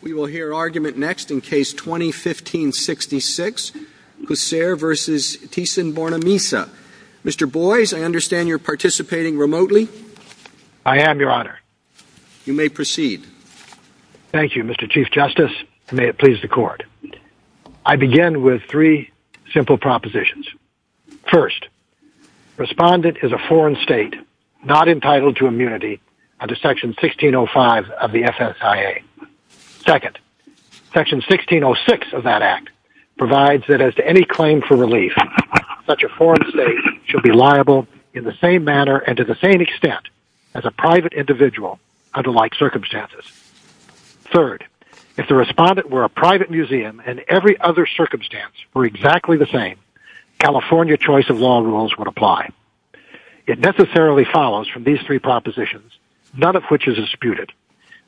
We will hear argument next in Case 2015-66, Cusser v. Thyssen-Bornemisza. Mr. Boies, I understand you're participating remotely? I am, Your Honor. You may proceed. Thank you, Mr. Chief Justice, and may it please the Court. I begin with three simple propositions. First, Respondent is a foreign state not entitled to immunity under Section 1605 of the FSIA. Second, Section 1606 of that Act provides that as to any claim for relief, such a foreign state should be liable in the same manner and to the same extent as a private individual under like circumstances. Third, if the Respondent were a private museum and every other circumstance were exactly the same, California choice of law rules would apply. It necessarily follows from these three propositions, none of which is disputed,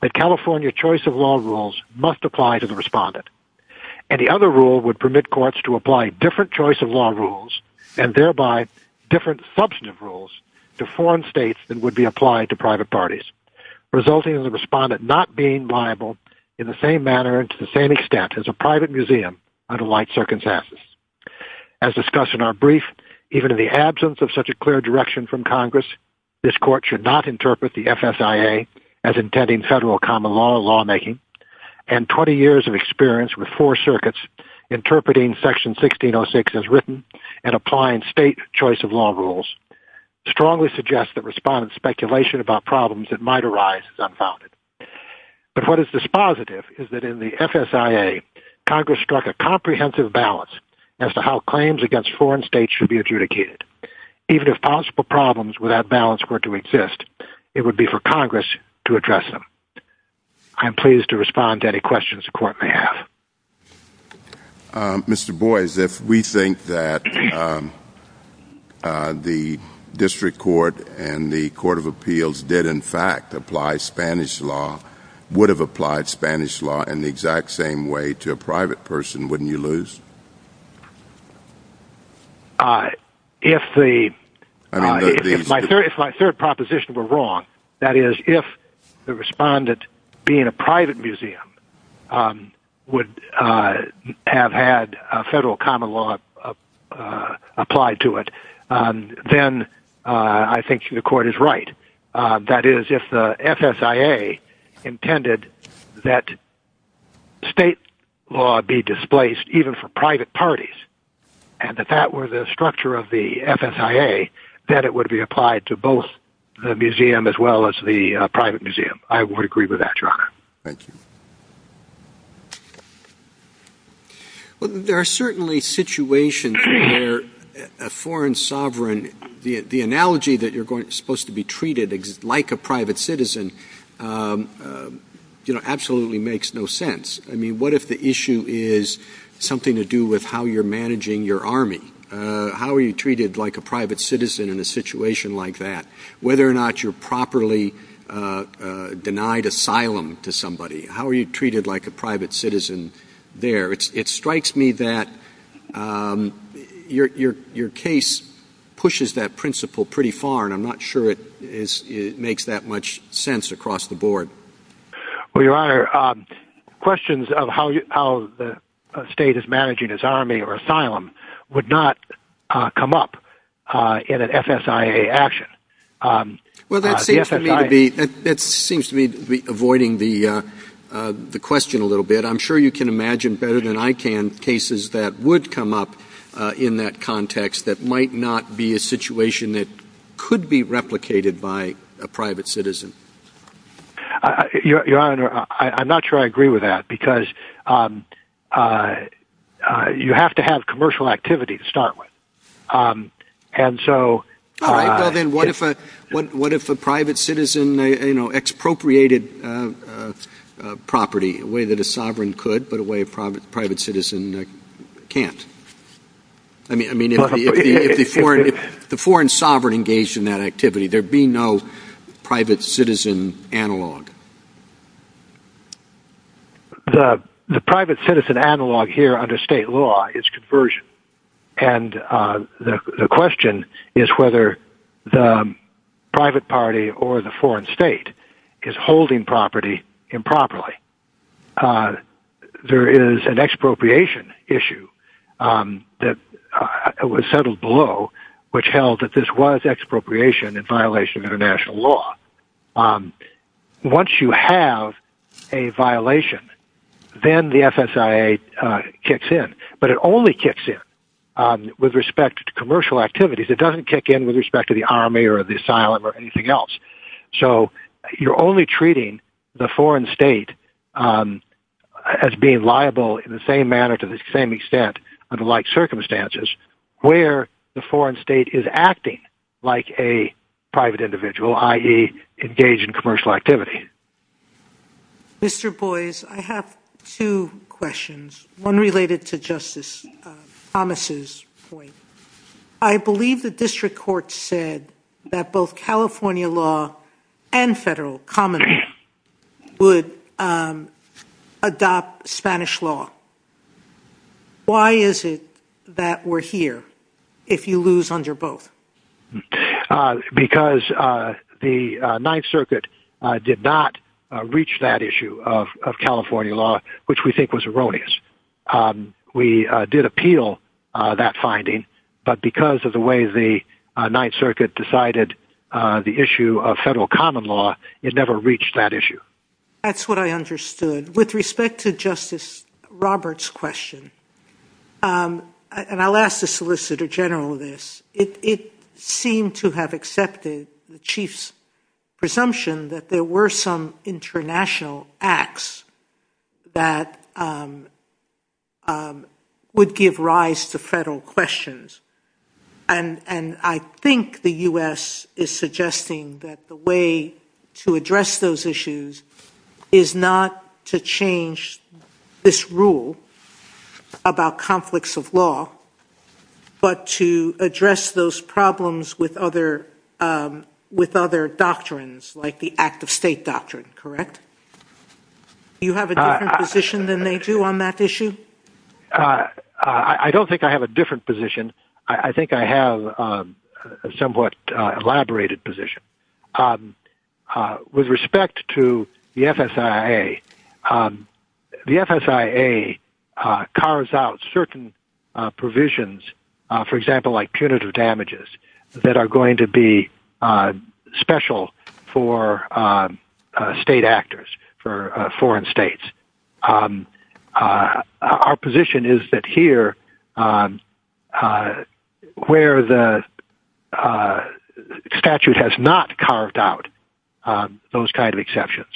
that California choice of law rules must apply to the Respondent. Any other rule would permit courts to apply different choice of law rules and thereby different substantive rules to foreign states that would be applied to private parties, resulting in the Respondent not being liable in the same manner and to the same extent as a private museum under like circumstances. As discussed in our brief, even in the absence of such a clear direction from Congress, this Court should not interpret the FSIA as intending federal common law lawmaking and 20 years of experience with four circuits interpreting Section 1606 as written and applying state choice of law rules strongly suggest that Respondent speculation about problems that might arise is unfounded. But what is dispositive is that in the FSIA, Congress struck a comprehensive balance as to how claims against foreign states should be adjudicated. Even if possible problems without balance were to exist, it would be for Congress to address them. I am pleased to respond to any questions the Court may have. Mr. Boies, if we think that the District Court and the Court of Appeals did in fact apply Spanish law, would have applied Spanish law in the exact same way to a private person, wouldn't you lose? If my third proposition were wrong, that is if the Respondent being a private museum would have had federal common law applied to it, then I think the Court is right. That is, if the FSIA intended that state law be displaced even for private parties, and if that were the structure of the FSIA, then it would be applied to both the museum as well as the private museum. I would agree with that, Your Honor. Thank you. Well, there are certainly situations where a foreign sovereign, the analogy that you're supposed to be treated like a private citizen, you know, absolutely makes no sense. I mean, what if the issue is something to do with how you're managing your army? How are you treated like a private citizen in a situation like that? Whether or not you're properly denied asylum to somebody. How are you treated like a private citizen there? It strikes me that your case pushes that principle pretty far, and I'm not sure it makes that much sense across the board. Well, Your Honor, questions of how the state is managing its army or asylum would not come up in an FSIA action. Well, that seems to me to be avoiding the question a little bit. I'm sure you can imagine better than I can cases that would come up in that context that might not be a situation that could be replicated by a private citizen. Your Honor, I'm not sure I agree with that because you have to have commercial activity to start with. All right. Well, then what if a private citizen, you know, expropriated property in a way that a sovereign could, but a way a private citizen can't? I mean, if the foreign sovereign engaged in that activity, there'd be no private citizen analog. The private citizen analog here under state law is conversion. And the question is whether the private party or the foreign state is holding property improperly. There is an expropriation issue that was settled below which held that this was expropriation in violation of international law. Once you have a violation, then the FSIA kicks in. But it only kicks in with respect to commercial activities. It doesn't kick in with respect to the army or the asylum or anything else. So you're only treating the foreign state as being liable in the same manner to the same extent under like circumstances where the foreign state is acting like a private individual, i.e., engaged in commercial activity. Mr. Boies, I have two questions, one related to Justice Thomas' point. I believe the district court said that both California law and federal common law would adopt Spanish law. Why is it that we're here if you lose under both? Because the Ninth Circuit did not reach that issue of California law, which we think was erroneous. We did appeal that finding. But because of the way the Ninth Circuit decided the issue of federal common law, it never reached that issue. That's what I understood. With respect to Justice Roberts' question, and I'll ask the Solicitor General this, it seemed to have accepted the Chief's presumption that there were some international acts that would give rise to federal questions. And I think the U.S. is suggesting that the way to address those issues is not to change this rule about conflicts of law, but to address those problems with other doctrines like the act-of-state doctrine, correct? Do you have a different position than they do on that issue? I don't think I have a different position. I think I have a somewhat elaborated position. With respect to the FSIA, the FSIA carves out certain provisions, for example, like punitive damages, that are going to be special for state actors, for foreign states. Our position is that here, where the statute has not carved out those kind of exceptions,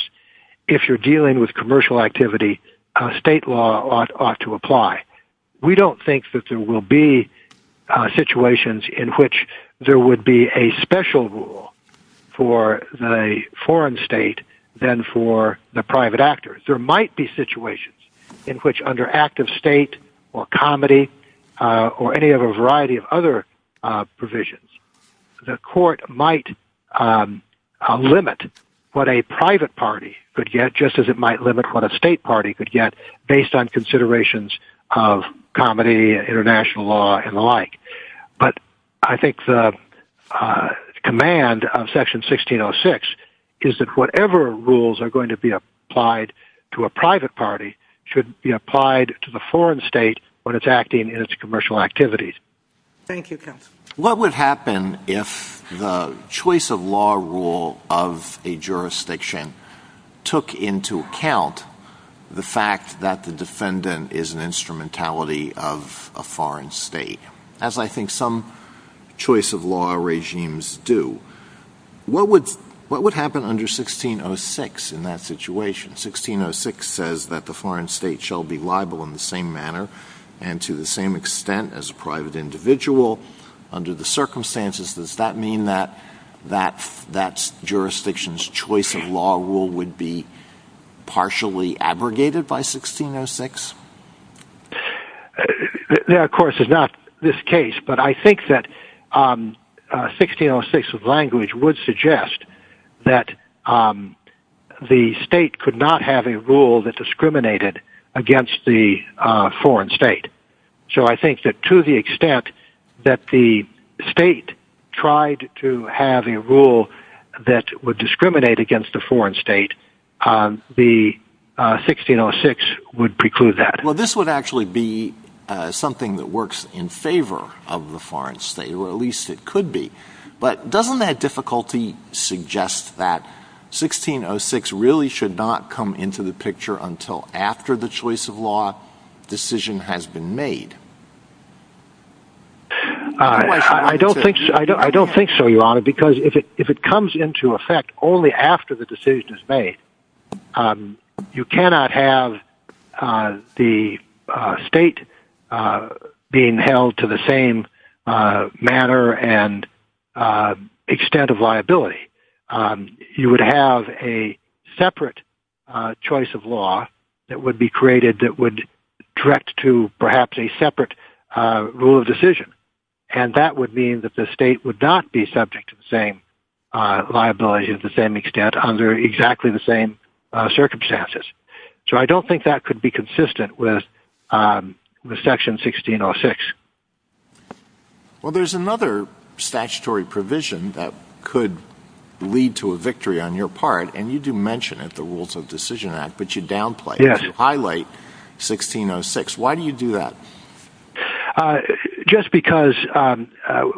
if you're dealing with commercial activity, state law ought to apply. We don't think that there will be situations in which there would be a special rule for the foreign state than for the private actors. There might be situations in which, under act-of-state or comedy or any other variety of other provisions, the court might limit what a private party could get, just as it might limit what a state party could get, based on considerations of comedy, international law, and the like. But I think the command of Section 1606 is that whatever rules are going to be applied to a private party should be applied to the foreign state when it's acting in its commercial activities. Thank you, counsel. What would happen if the choice-of-law rule of a jurisdiction took into account the fact that the defendant is an instrumentality of a foreign state? As I think some choice-of-law regimes do. What would happen under 1606 in that situation? 1606 says that the foreign state shall be liable in the same manner and to the same extent as a private individual. Under the circumstances, does that mean that that jurisdiction's choice-of-law rule would be partially abrogated by 1606? That, of course, is not this case, but I think that 1606 language would suggest that the state could not have a rule that discriminated against the foreign state. So I think that to the extent that the state tried to have a rule that would discriminate against a foreign state, 1606 would preclude that. Well, this would actually be something that works in favor of the foreign state, or at least it could be. But doesn't that difficulty suggest that 1606 really should not come into the picture until after the choice-of-law decision has been made? I don't think so, Your Honor, because if it comes into effect only after the decision is made, you cannot have the state being held to the same manner and extent of liability. You would have a separate choice-of-law that would be created that would direct to, perhaps, a separate rule of decision. And that would mean that the state would not be subject to the same liability to the same extent under exactly the same circumstances. So I don't think that could be consistent with Section 1606. Well, there's another statutory provision that could lead to a victory on your part, and you do mention it, the Rules of Decision Act, but you downplay it. Yes. You highlight 1606. Why do you do that? Just because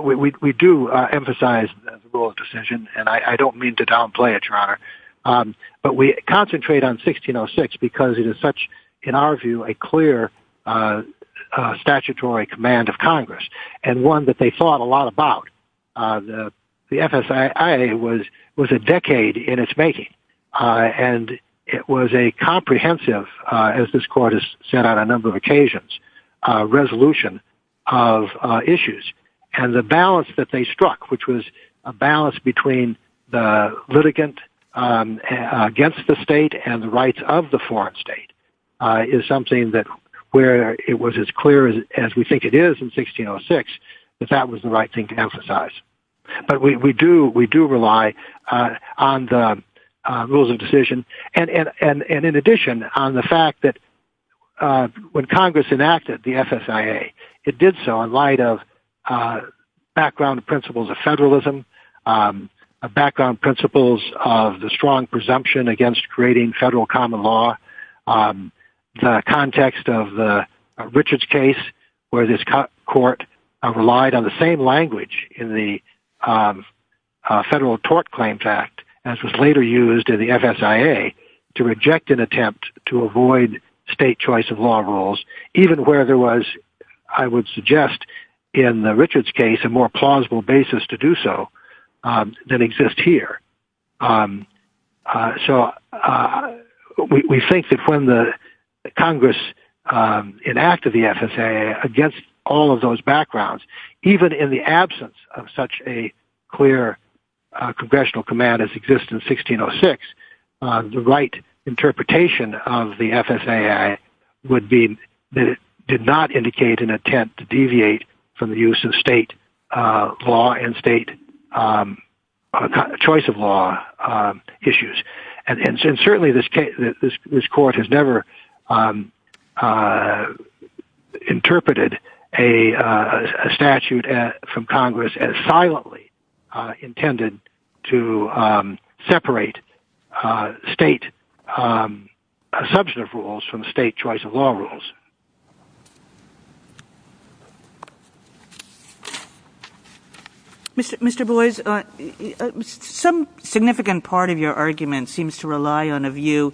we do emphasize the rule of decision, and I don't mean to downplay it, Your Honor. But we concentrate on 1606 because it is such, in our view, a clear statutory command of Congress and one that they fought a lot about. The FSIA was a decade in its making, and it was a comprehensive, as this Court has said on a number of occasions, resolution of issues. And the balance that they struck, which was a balance between the litigant against the state and the rights of the foreign state, is something where it was as clear as we think it is in 1606 that that was the right thing to emphasize. But we do rely on the rules of decision. And in addition, on the fact that when Congress enacted the FSIA, it did so in light of background principles of federalism, background principles of the strong presumption against creating federal common law, the context of the Richards case, where this Court relied on the same language in the Federal Tort Claims Act, as was later used in the FSIA, to reject an attempt to avoid state choice of law rules, even where there was, I would suggest, in the Richards case, a more plausible basis to do so than exists here. So we think that when Congress enacted the FSIA against all of those backgrounds, even in the absence of such a clear congressional command as exists in 1606, the right interpretation of the FSIA would be that it did not indicate an attempt to deviate from the use of state law and state choice of law issues. And certainly this Court has never interpreted a statute from Congress as silently intended to separate state substantive rules from state choice of law rules. Mr. Boies, some significant part of your argument seems to rely on a view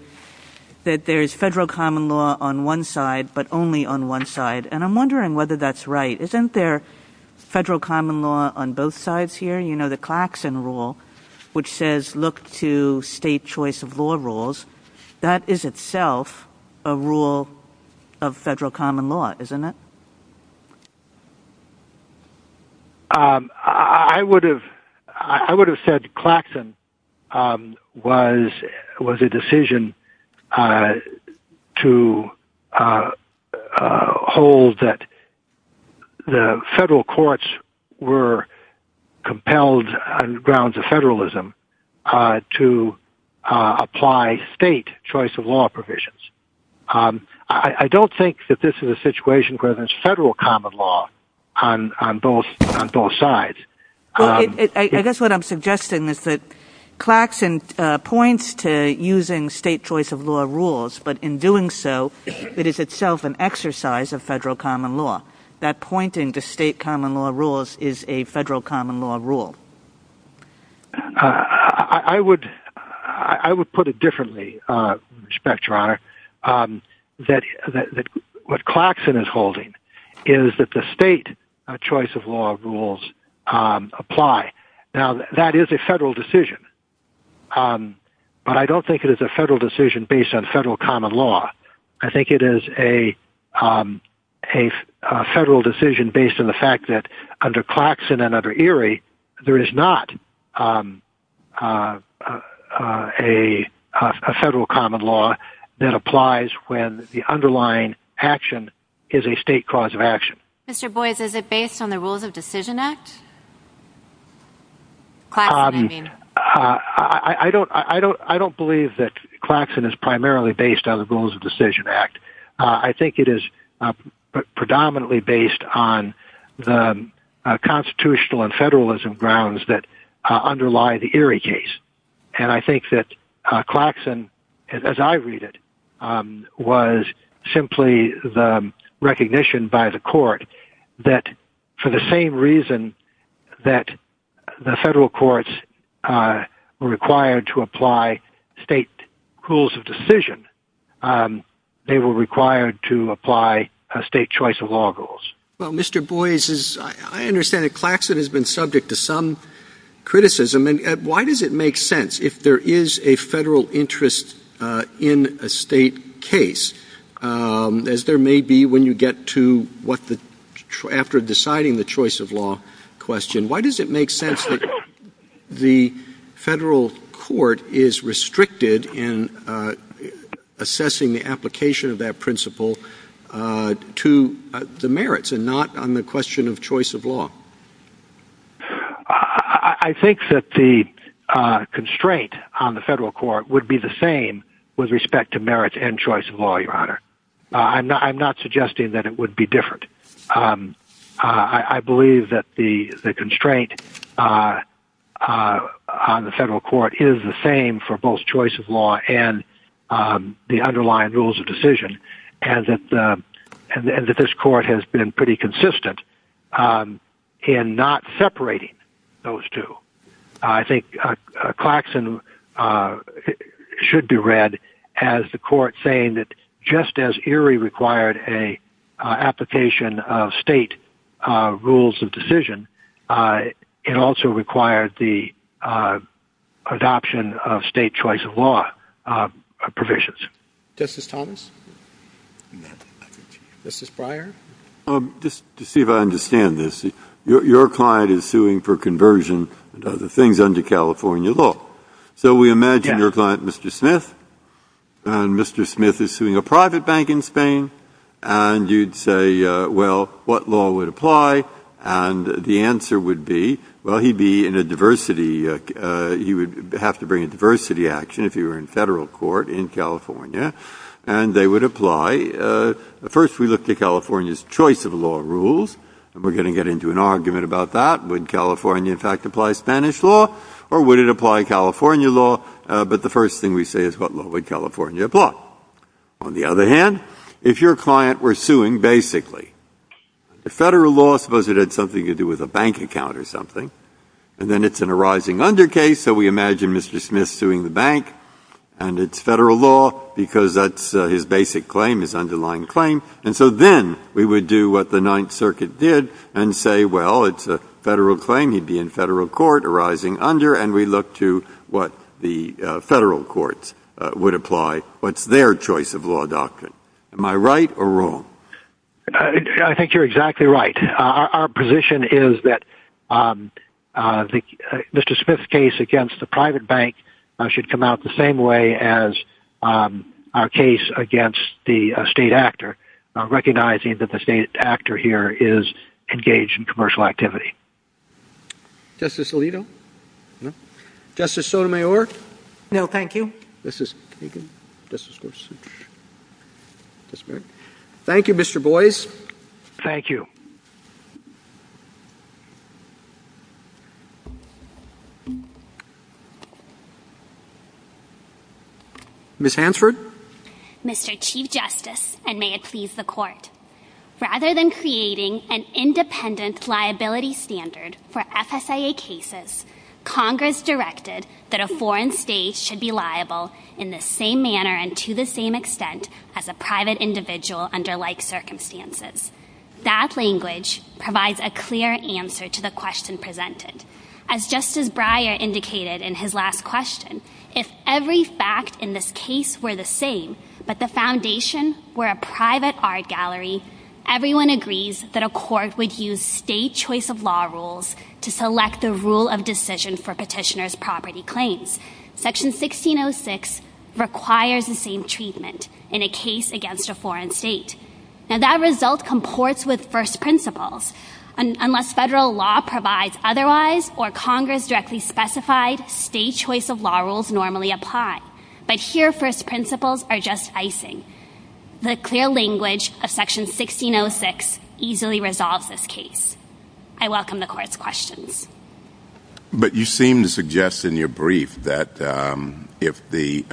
that there is federal common law on one side, but only on one side, and I'm wondering whether that's right. Isn't there federal common law on both sides here? You know, the Claxon rule, which says look to state choice of law rules. That is itself a rule of federal common law, isn't it? I would have said Claxon was a decision to hold that the federal courts were compelled on the grounds of federalism to apply state choice of law provisions. I don't think that this is a situation where there's federal common law on both sides. Well, I guess what I'm suggesting is that Claxon points to using state choice of law rules, but in doing so it is itself an exercise of federal common law. That pointing to state common law rules is a federal common law rule. I would put it differently, Your Honor, that what Claxon is holding is that the state choice of law rules apply. Now, that is a federal decision, but I don't think it is a federal decision based on federal common law. I think it is a federal decision based on the fact that under Claxon and under Erie, there is not a federal common law that applies when the underlying action is a state cause of action. Mr. Boies, is it based on the Rules of Decision Act? Claxon, I mean. I don't believe that Claxon is primarily based on the Rules of Decision Act. I think it is predominantly based on the constitutional and federalism grounds that underlie the Erie case. And I think that Claxon, as I read it, was simply the recognition by the court that for the same reason that the federal courts were required to apply state rules of decision, they were required to apply state choice of law rules. Well, Mr. Boies, I understand that Claxon has been subject to some criticism. And why does it make sense if there is a federal interest in a state case, as there may be when you get to after deciding the choice of law question, why does it make sense that the federal court is restricted in assessing the application of that principle to the merits and not on the question of choice of law? I think that the constraint on the federal court would be the same with respect to merits and choice of law, Your Honor. I'm not suggesting that it would be different. I believe that the constraint on the federal court is the same for both choice of law and the underlying rules of decision. And that this court has been pretty consistent in not separating those two. I think Claxon should be read as the court saying that just as Erie required an application of state rules of decision, it also required the adoption of state choice of law provisions. Justice Thomas? Justice Breyer? Just to see if I understand this, your client is suing for conversion and other things under California law. So we imagine your client, Mr. Smith, and Mr. Smith is suing a private bank in Spain. And you'd say, well, what law would apply? And the answer would be, well, he'd be in a diversity, he would have to bring a diversity action if he were in federal court in California. And they would apply. First, we look to California's choice of law rules. And we're going to get into an argument about that. Would California, in fact, apply Spanish law or would it apply California law? But the first thing we say is, what law would California apply? On the other hand, if your client were suing basically, the Federal law, suppose it had something to do with a bank account or something, and then it's an arising under case, so we imagine Mr. Smith suing the bank and it's Federal law because that's his basic claim, his underlying claim. And so then we would do what the Ninth Circuit did and say, well, it's a Federal claim, he'd be in Federal court arising under, and we look to what the Federal courts would apply, what's their choice of law doctrine. Am I right or wrong? I think you're exactly right. Our position is that Mr. Smith's case against the private bank should come out the same way as our case against the state actor, recognizing that the state actor here is engaged in commercial activity. Justice Alito? Justice Sotomayor? No, thank you. Justice Kagan? Justice Gorsuch? Thank you, Mr. Boies. Thank you. Ms. Hansford? Mr. Chief Justice, and may it please the Court, rather than creating an independent liability standard for FSIA cases, Congress directed that a foreign state should be liable in the same manner and to the same extent as a private individual under like circumstances. That language provides a clear answer to the question presented. As Justice Breyer indicated in his last question, if every fact in this case were the same, but the foundation were a private art gallery, everyone agrees that a court would use state choice of law rules to select the rule of decision for petitioner's property claims. Section 1606 requires the same treatment in a case against a foreign state. Now that result comports with first principles. Unless federal law provides otherwise or Congress directly specified, state choice of law rules normally apply. But here, first principles are just icing. The clear language of Section 1606 easily resolves this case. I welcome the Court's questions. But you seem to suggest in your brief that if the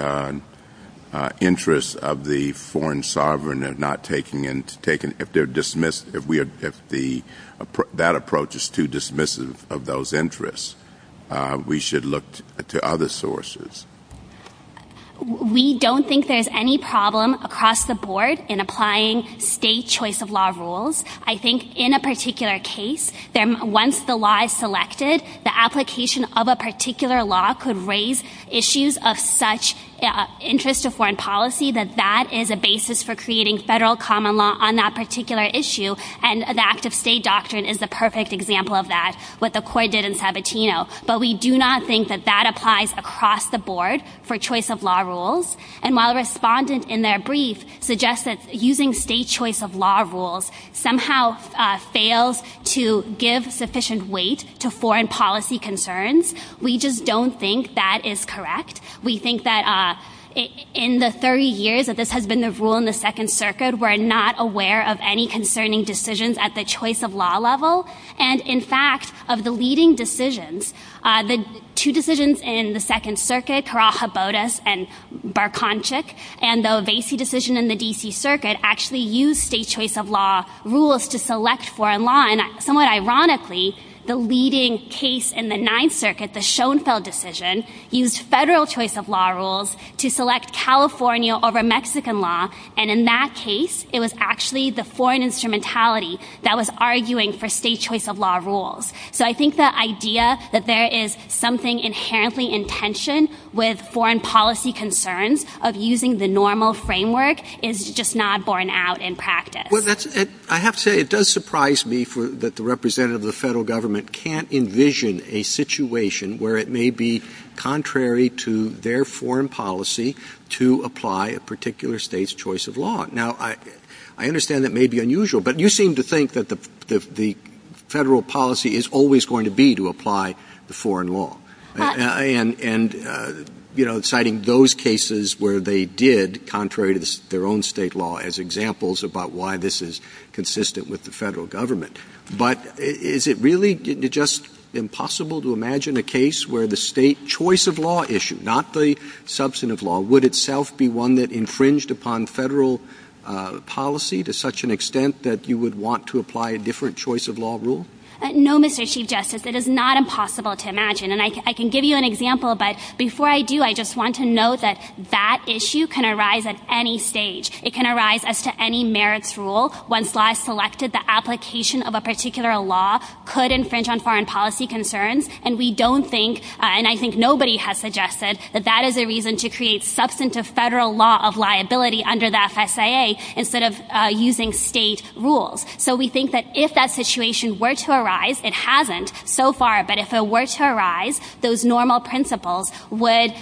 interests of the foreign sovereign are not taken and if they're dismissed, if that approach is too dismissive of those interests, we should look to other sources. We don't think there's any problem across the board in applying state choice of law rules. I think in a particular case, once the law is selected, the application of a particular law could raise issues of such interest to foreign policy that that is a basis for creating federal common law on that particular issue. And the active state doctrine is the perfect example of that, what the Court did in Sabatino. But we do not think that that applies across the board for choice of law rules. And while a respondent in their brief suggests that using state choice of law rules somehow fails to give sufficient weight to foreign policy concerns, we just don't think that is correct. We think that in the 30 years that this has been the rule in the Second Circuit, we're not aware of any concerning decisions at the choice of law level. And in fact, of the leading decisions, the two decisions in the Second Circuit, Carajabodas and Barconchik, and the Ovesi decision in the D.C. Circuit actually used state choice of law rules to select foreign law. And somewhat ironically, the leading case in the Ninth Circuit, the Schoenfeld decision, used federal choice of law rules to select California over Mexican law. And in that case, it was actually the foreign instrumentality that was arguing for state choice of law rules. So I think the idea that there is something inherently in tension with foreign policy concerns of using the normal framework is just not borne out in practice. Well, I have to say, it does surprise me that the representative of the federal government can't envision a situation where it may be contrary to their foreign policy to apply a particular State's choice of law. Now, I understand that may be unusual, but you seem to think that the federal policy is always going to be to apply the foreign law. And, you know, citing those cases where they did, contrary to their own State law, as examples about why this is consistent with the federal government. But is it really just impossible to imagine a case where the State choice of law issue, not the substantive law, would itself be one that infringed upon federal policy to such an extent that you would want to apply a different choice of law rule? No, Mr. Chief Justice. It is not impossible to imagine. And I can give you an example, but before I do, I just want to note that that issue can arise at any stage. It can arise as to any merits rule. Once law is selected, the application of a particular law could infringe on foreign policy concerns. And we don't think, and I think nobody has suggested, that that is a reason to create substantive federal law of liability under the FSIA instead of using State rules. So we think that if that situation were to arise, it hasn't so far, but if it were to arise, those normal principles would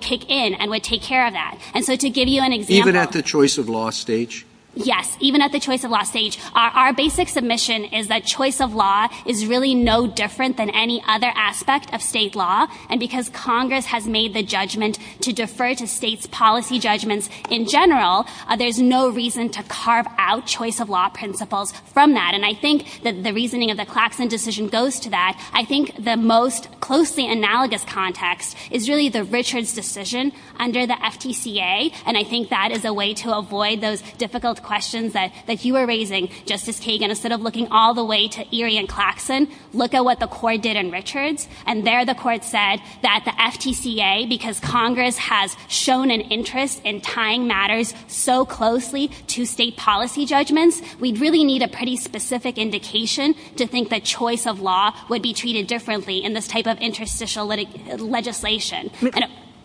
kick in and would take care of that. And so to give you an example. Even at the choice of law stage? Yes, even at the choice of law stage. Our basic submission is that choice of law is really no different than any other aspect of State law, and because Congress has made the judgment to defer to State's policy judgments in general, there's no reason to carve out choice of law principles from that. And I think that the reasoning of the Claxon decision goes to that. I think the most closely analogous context is really the Richards decision under the FTCA, and I think that is a way to avoid those difficult questions that you were raising, Justice Kagan, instead of looking all the way to Erie and Claxon, look at what the Court did in Richards, and there the Court said that the FTCA, because Congress has shown an interest in tying matters so closely to State policy judgments, we really need a pretty specific indication to think that choice of law would be treated differently in this type of interstitial legislation.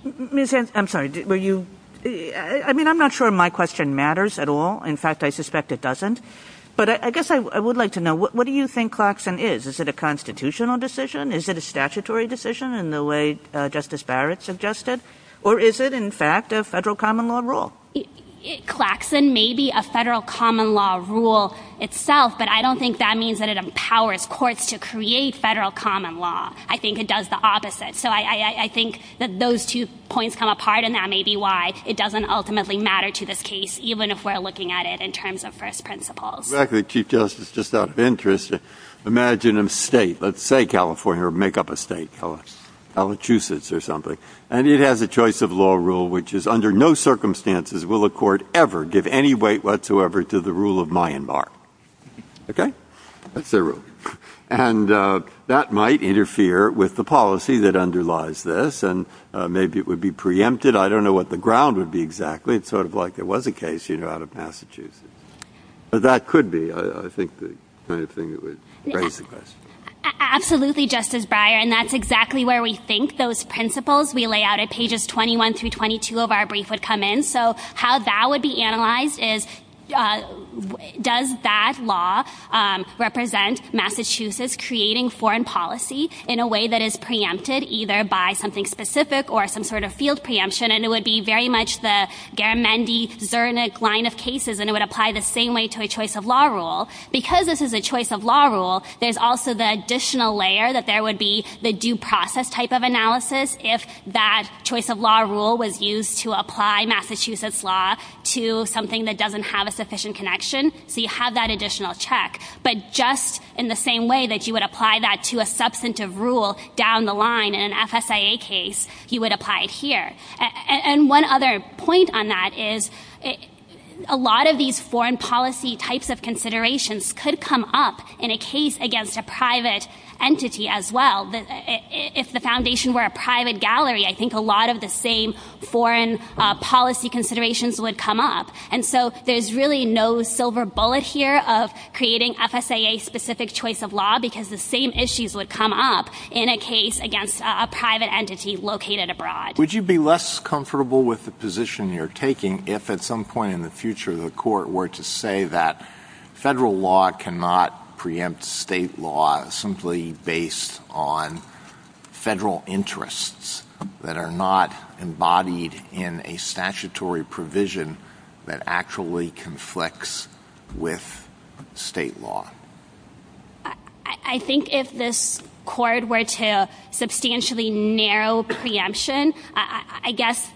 Ms. Hanson, I'm sorry. I mean, I'm not sure my question matters at all. In fact, I suspect it doesn't. But I guess I would like to know, what do you think Claxon is? Is it a constitutional decision? Is it a statutory decision in the way Justice Barrett suggested? Or is it, in fact, a federal common law rule? Claxon may be a federal common law rule itself, but I don't think that means that it empowers courts to create federal common law. I think it does the opposite. So I think that those two points come apart, and that may be why it doesn't ultimately matter to this case, even if we're looking at it in terms of first principles. Exactly. Chief Justice, just out of interest, imagine a state, let's say California, or make up a state, Calachusetts or something, and it has a choice of law rule which is under no circumstances will a court ever give any weight whatsoever to the rule of Myanmar. Okay? That's their rule. And that might interfere with the policy that underlies this, and maybe it would be preempted. I don't know what the ground would be exactly. It's sort of like there was a case out of Massachusetts. But that could be, I think, the kind of thing that would raise the question. Absolutely, Justice Breyer. And that's exactly where we think those principles we lay out at pages 21 through 22 of our brief would come in. So how that would be analyzed is does that law represent Massachusetts creating foreign policy in a way that is preempted either by something specific or some sort of field preemption, and it would be very much the Garamendi-Zernick line of cases, and it would apply the same way to a choice of law rule. Because this is a choice of law rule, there's also the additional layer that there would be the due process type of analysis if that choice of law rule was used to apply Massachusetts law to something that doesn't have a sufficient connection. So you have that additional check. But just in the same way that you would apply that to a substantive rule down the line in an FSIA case, you would apply it here. And one other point on that is a lot of these foreign policy types of considerations could come up in a case against a private entity as well. If the foundation were a private gallery, I think a lot of the same foreign policy considerations would come up. And so there's really no silver bullet here of creating FSIA-specific choice of law because the same issues would come up in a case against a private entity located abroad. Would you be less comfortable with the position you're taking if at some point in the future the court were to say that federal law cannot preempt state law simply based on federal interests that are not embodied in a statutory provision that actually conflicts with state law? I think if this court were to substantially narrow preemption, I guess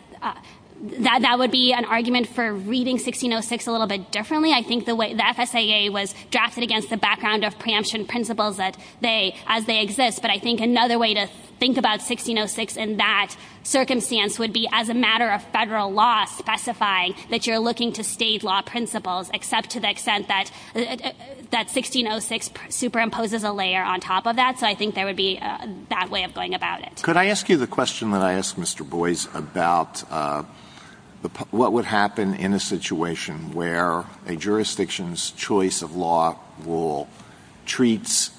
that would be an argument for reading 1606 a little bit differently. I think the FSIA was drafted against the background of preemption principles as they exist. But I think another way to think about 1606 in that circumstance would be as a matter of federal law specifying that you're looking to state law principles, except to the extent that 1606 superimposes a layer on top of that. So I think there would be that way of going about it. Could I ask you the question that I asked Mr. Boies about what would happen in a situation where a jurisdiction's choice of law rule treats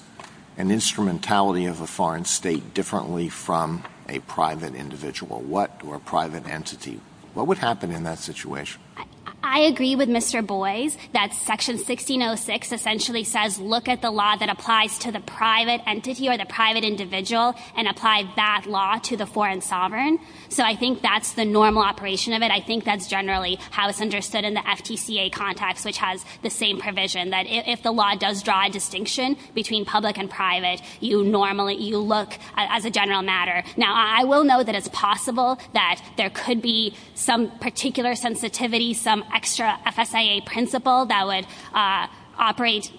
an instrumentality of a foreign state differently from a private individual or a private entity? What would happen in that situation? I agree with Mr. Boies that Section 1606 essentially says look at the law that applies to the private entity or the private individual and apply that law to the foreign sovereign. So I think that's the normal operation of it. I think that's generally how it's understood in the FTCA context, which has the same provision, that if the law does draw a distinction between public and private, you look as a general matter. Now, I will note that it's possible that there could be some particular sensitivity, some extra FSIA principle that would operate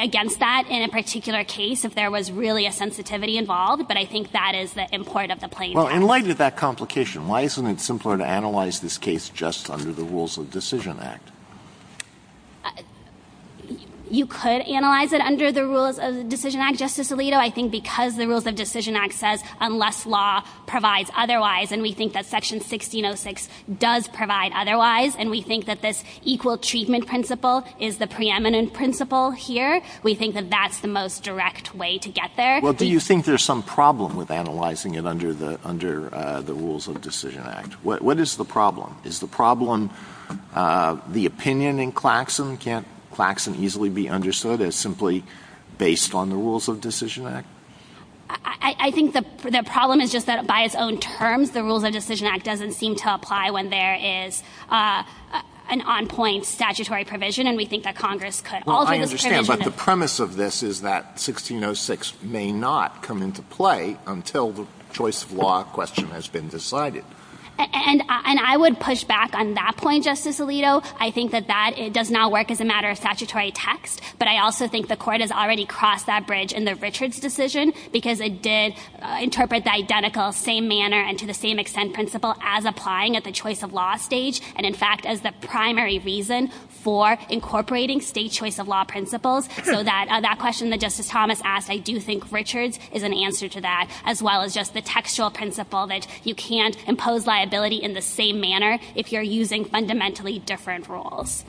against that in a particular case if there was really a sensitivity involved, but I think that is the import of the plain language. Well, in light of that complication, why isn't it simpler to analyze this case just under the Rules of Decision Act? You could analyze it under the Rules of Decision Act, Justice Alito. I think because the Rules of Decision Act says unless law provides otherwise, and we think that Section 1606 does provide otherwise, and we think that this equal treatment principle is the preeminent principle here, we think that that's the most direct way to get there. Well, do you think there's some problem with analyzing it under the Rules of Decision Act? What is the problem? Is the problem the opinion in Claxon? Can't Claxon easily be understood as simply based on the Rules of Decision Act? I think the problem is just that by its own terms, the Rules of Decision Act doesn't seem to apply when there is an on-point statutory provision, and we think that Congress could alter this provision. Well, I understand, but the premise of this is that 1606 may not come into play until the choice of law question has been decided. And I would push back on that point, Justice Alito. I think that that does not work as a matter of statutory text, but I also think the Court has already crossed that bridge in the Richards decision, because it did interpret the identical same manner and to the same extent principle as applying at the choice of law stage, and, in fact, as the primary reason for incorporating state choice of law principles. So that question that Justice Thomas asked, I do think Richards is an answer to that, as well as just the textual principle that you can't impose liability in the same manner if you're using fundamentally different rules.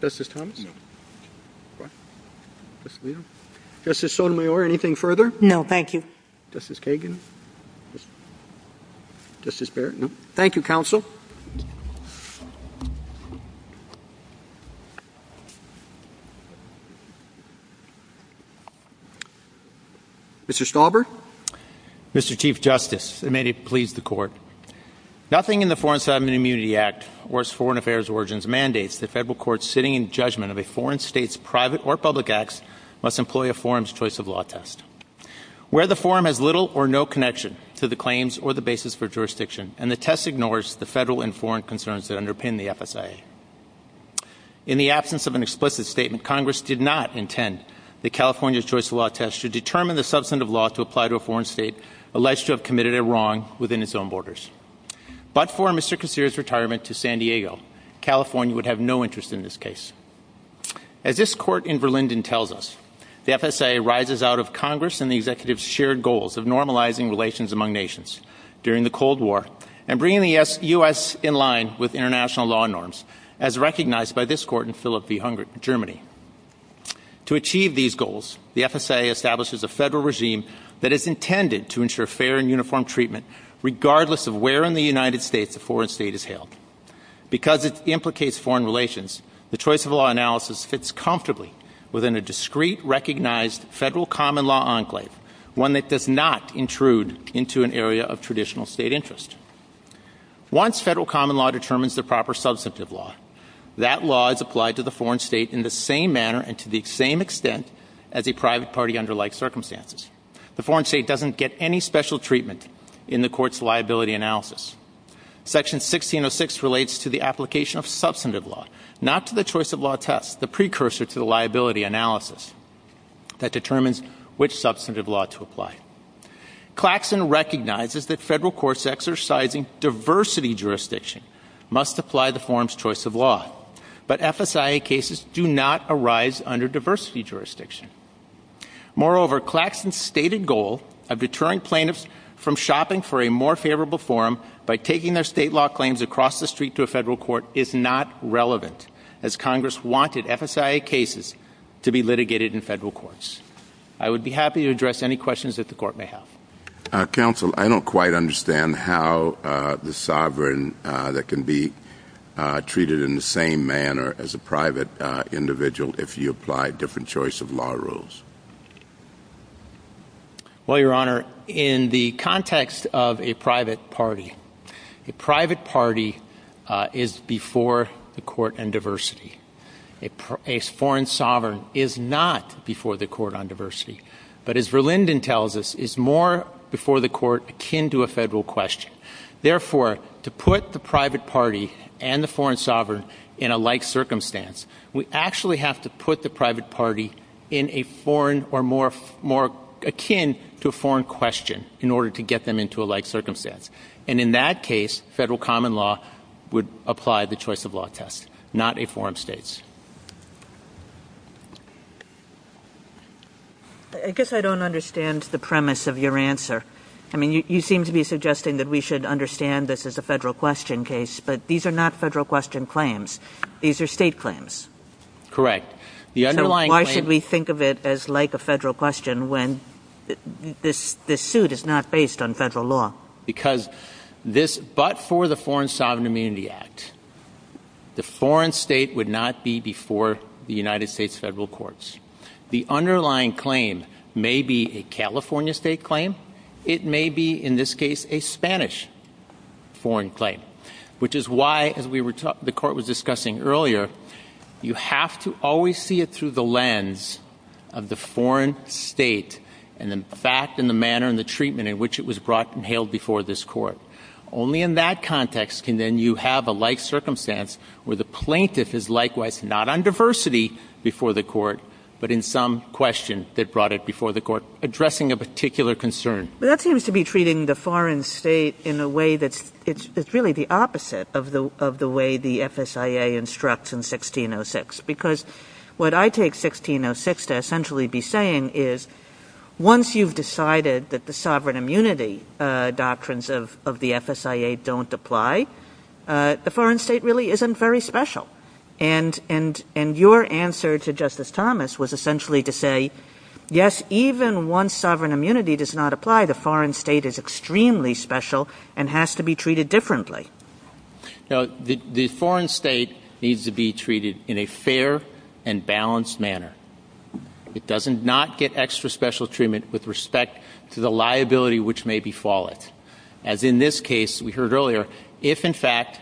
Justice Thomas? No. Justice Alito? Justice Sotomayor, anything further? No, thank you. Justice Kagan? Justice Barrett? No. Thank you, Counsel. Mr. Stauber? Mr. Chief Justice, and may it please the Court, nothing in the Foreign Signs of Immunity Act or its foreign affairs origins mandates that federal courts sitting in judgment of a foreign state's private or public acts must employ a forum's choice of law test. Where the forum has little or no connection to the claims or the basis for jurisdiction, and the test ignores the federal and foreign concerns that underpin the FSIA. In the absence of an explicit statement, Congress did not intend that California's choice of law test should determine the substantive law to apply to a foreign state alleged to have committed a wrong within its own borders. But for Mr. Casere's retirement to San Diego, California would have no interest in this case. As this Court in Verlinden tells us, the FSIA rises out of Congress and the Executive's shared goals of normalizing relations among nations during the Cold War and bringing the U.S. in line with international law norms, as recognized by this Court in Philippi, Germany. To achieve these goals, the FSIA establishes a federal regime that is intended to ensure fair and uniform treatment regardless of where in the United States a foreign state is held. Because it implicates foreign relations, the choice of law analysis fits comfortably within a discrete, recognized federal common law enclave, one that does not intrude into an area of traditional state interest. Once federal common law determines the proper substantive law, that law is applied to the foreign state in the same manner and to the same extent as a private party under like circumstances. The foreign state doesn't get any special treatment in the Court's liability analysis. Section 1606 relates to the application of substantive law, not to the choice of law test, the precursor to the liability analysis that determines which substantive law to apply. Claxon recognizes that federal courts exercising diversity jurisdiction must apply the forum's choice of law, but FSIA cases do not arise under diversity jurisdiction. Moreover, Claxon's stated goal of deterring plaintiffs from shopping for a more favorable forum by taking their state law claims across the street to a federal court is not relevant, as Congress wanted FSIA cases to be litigated in federal courts. I would be happy to address any questions that the Court may have. Counsel, I don't quite understand how the sovereign that can be treated in the same manner as a private individual, if you apply a different choice of law rules. Well, Your Honor, in the context of a private party, a private party is before the Court on diversity. A foreign sovereign is not before the Court on diversity. But as Verlinden tells us, it's more before the Court akin to a federal question. Therefore, to put the private party and the foreign sovereign in a like circumstance, we actually have to put the private party in a foreign or more akin to a foreign question in order to get them into a like circumstance. And in that case, federal common law would apply the choice of law test, not a foreign states. I guess I don't understand the premise of your answer. I mean, you seem to be suggesting that we should understand this as a federal question case, but these are not federal question claims. These are state claims. Correct. So why should we think of it as like a federal question when this suit is not based on federal law? Because this, but for the Foreign Sovereign Immunity Act, the foreign state would not be before the United States federal courts. The underlying claim may be a California state claim. It may be, in this case, a Spanish foreign claim, which is why, as the Court was discussing earlier, you have to always see it through the lens of the foreign state and the fact and the manner and the treatment in which it was brought and held before this court. Only in that context can then you have a like circumstance where the plaintiff is likewise not on diversity before the court, but in some question that brought it before the court, addressing a particular concern. But that seems to be treating the foreign state in a way that's really the opposite of the way the FSIA instructs in 1606. Because what I take 1606 to essentially be saying is once you've decided that the sovereign immunity doctrines of the FSIA don't apply, the foreign state really isn't very special. And your answer to Justice Thomas was essentially to say, yes, even once sovereign immunity does not apply, the foreign state is extremely special and has to be treated differently. No, the foreign state needs to be treated in a fair and balanced manner. It does not get extra special treatment with respect to the liability which may befall it. As in this case, we heard earlier, if in fact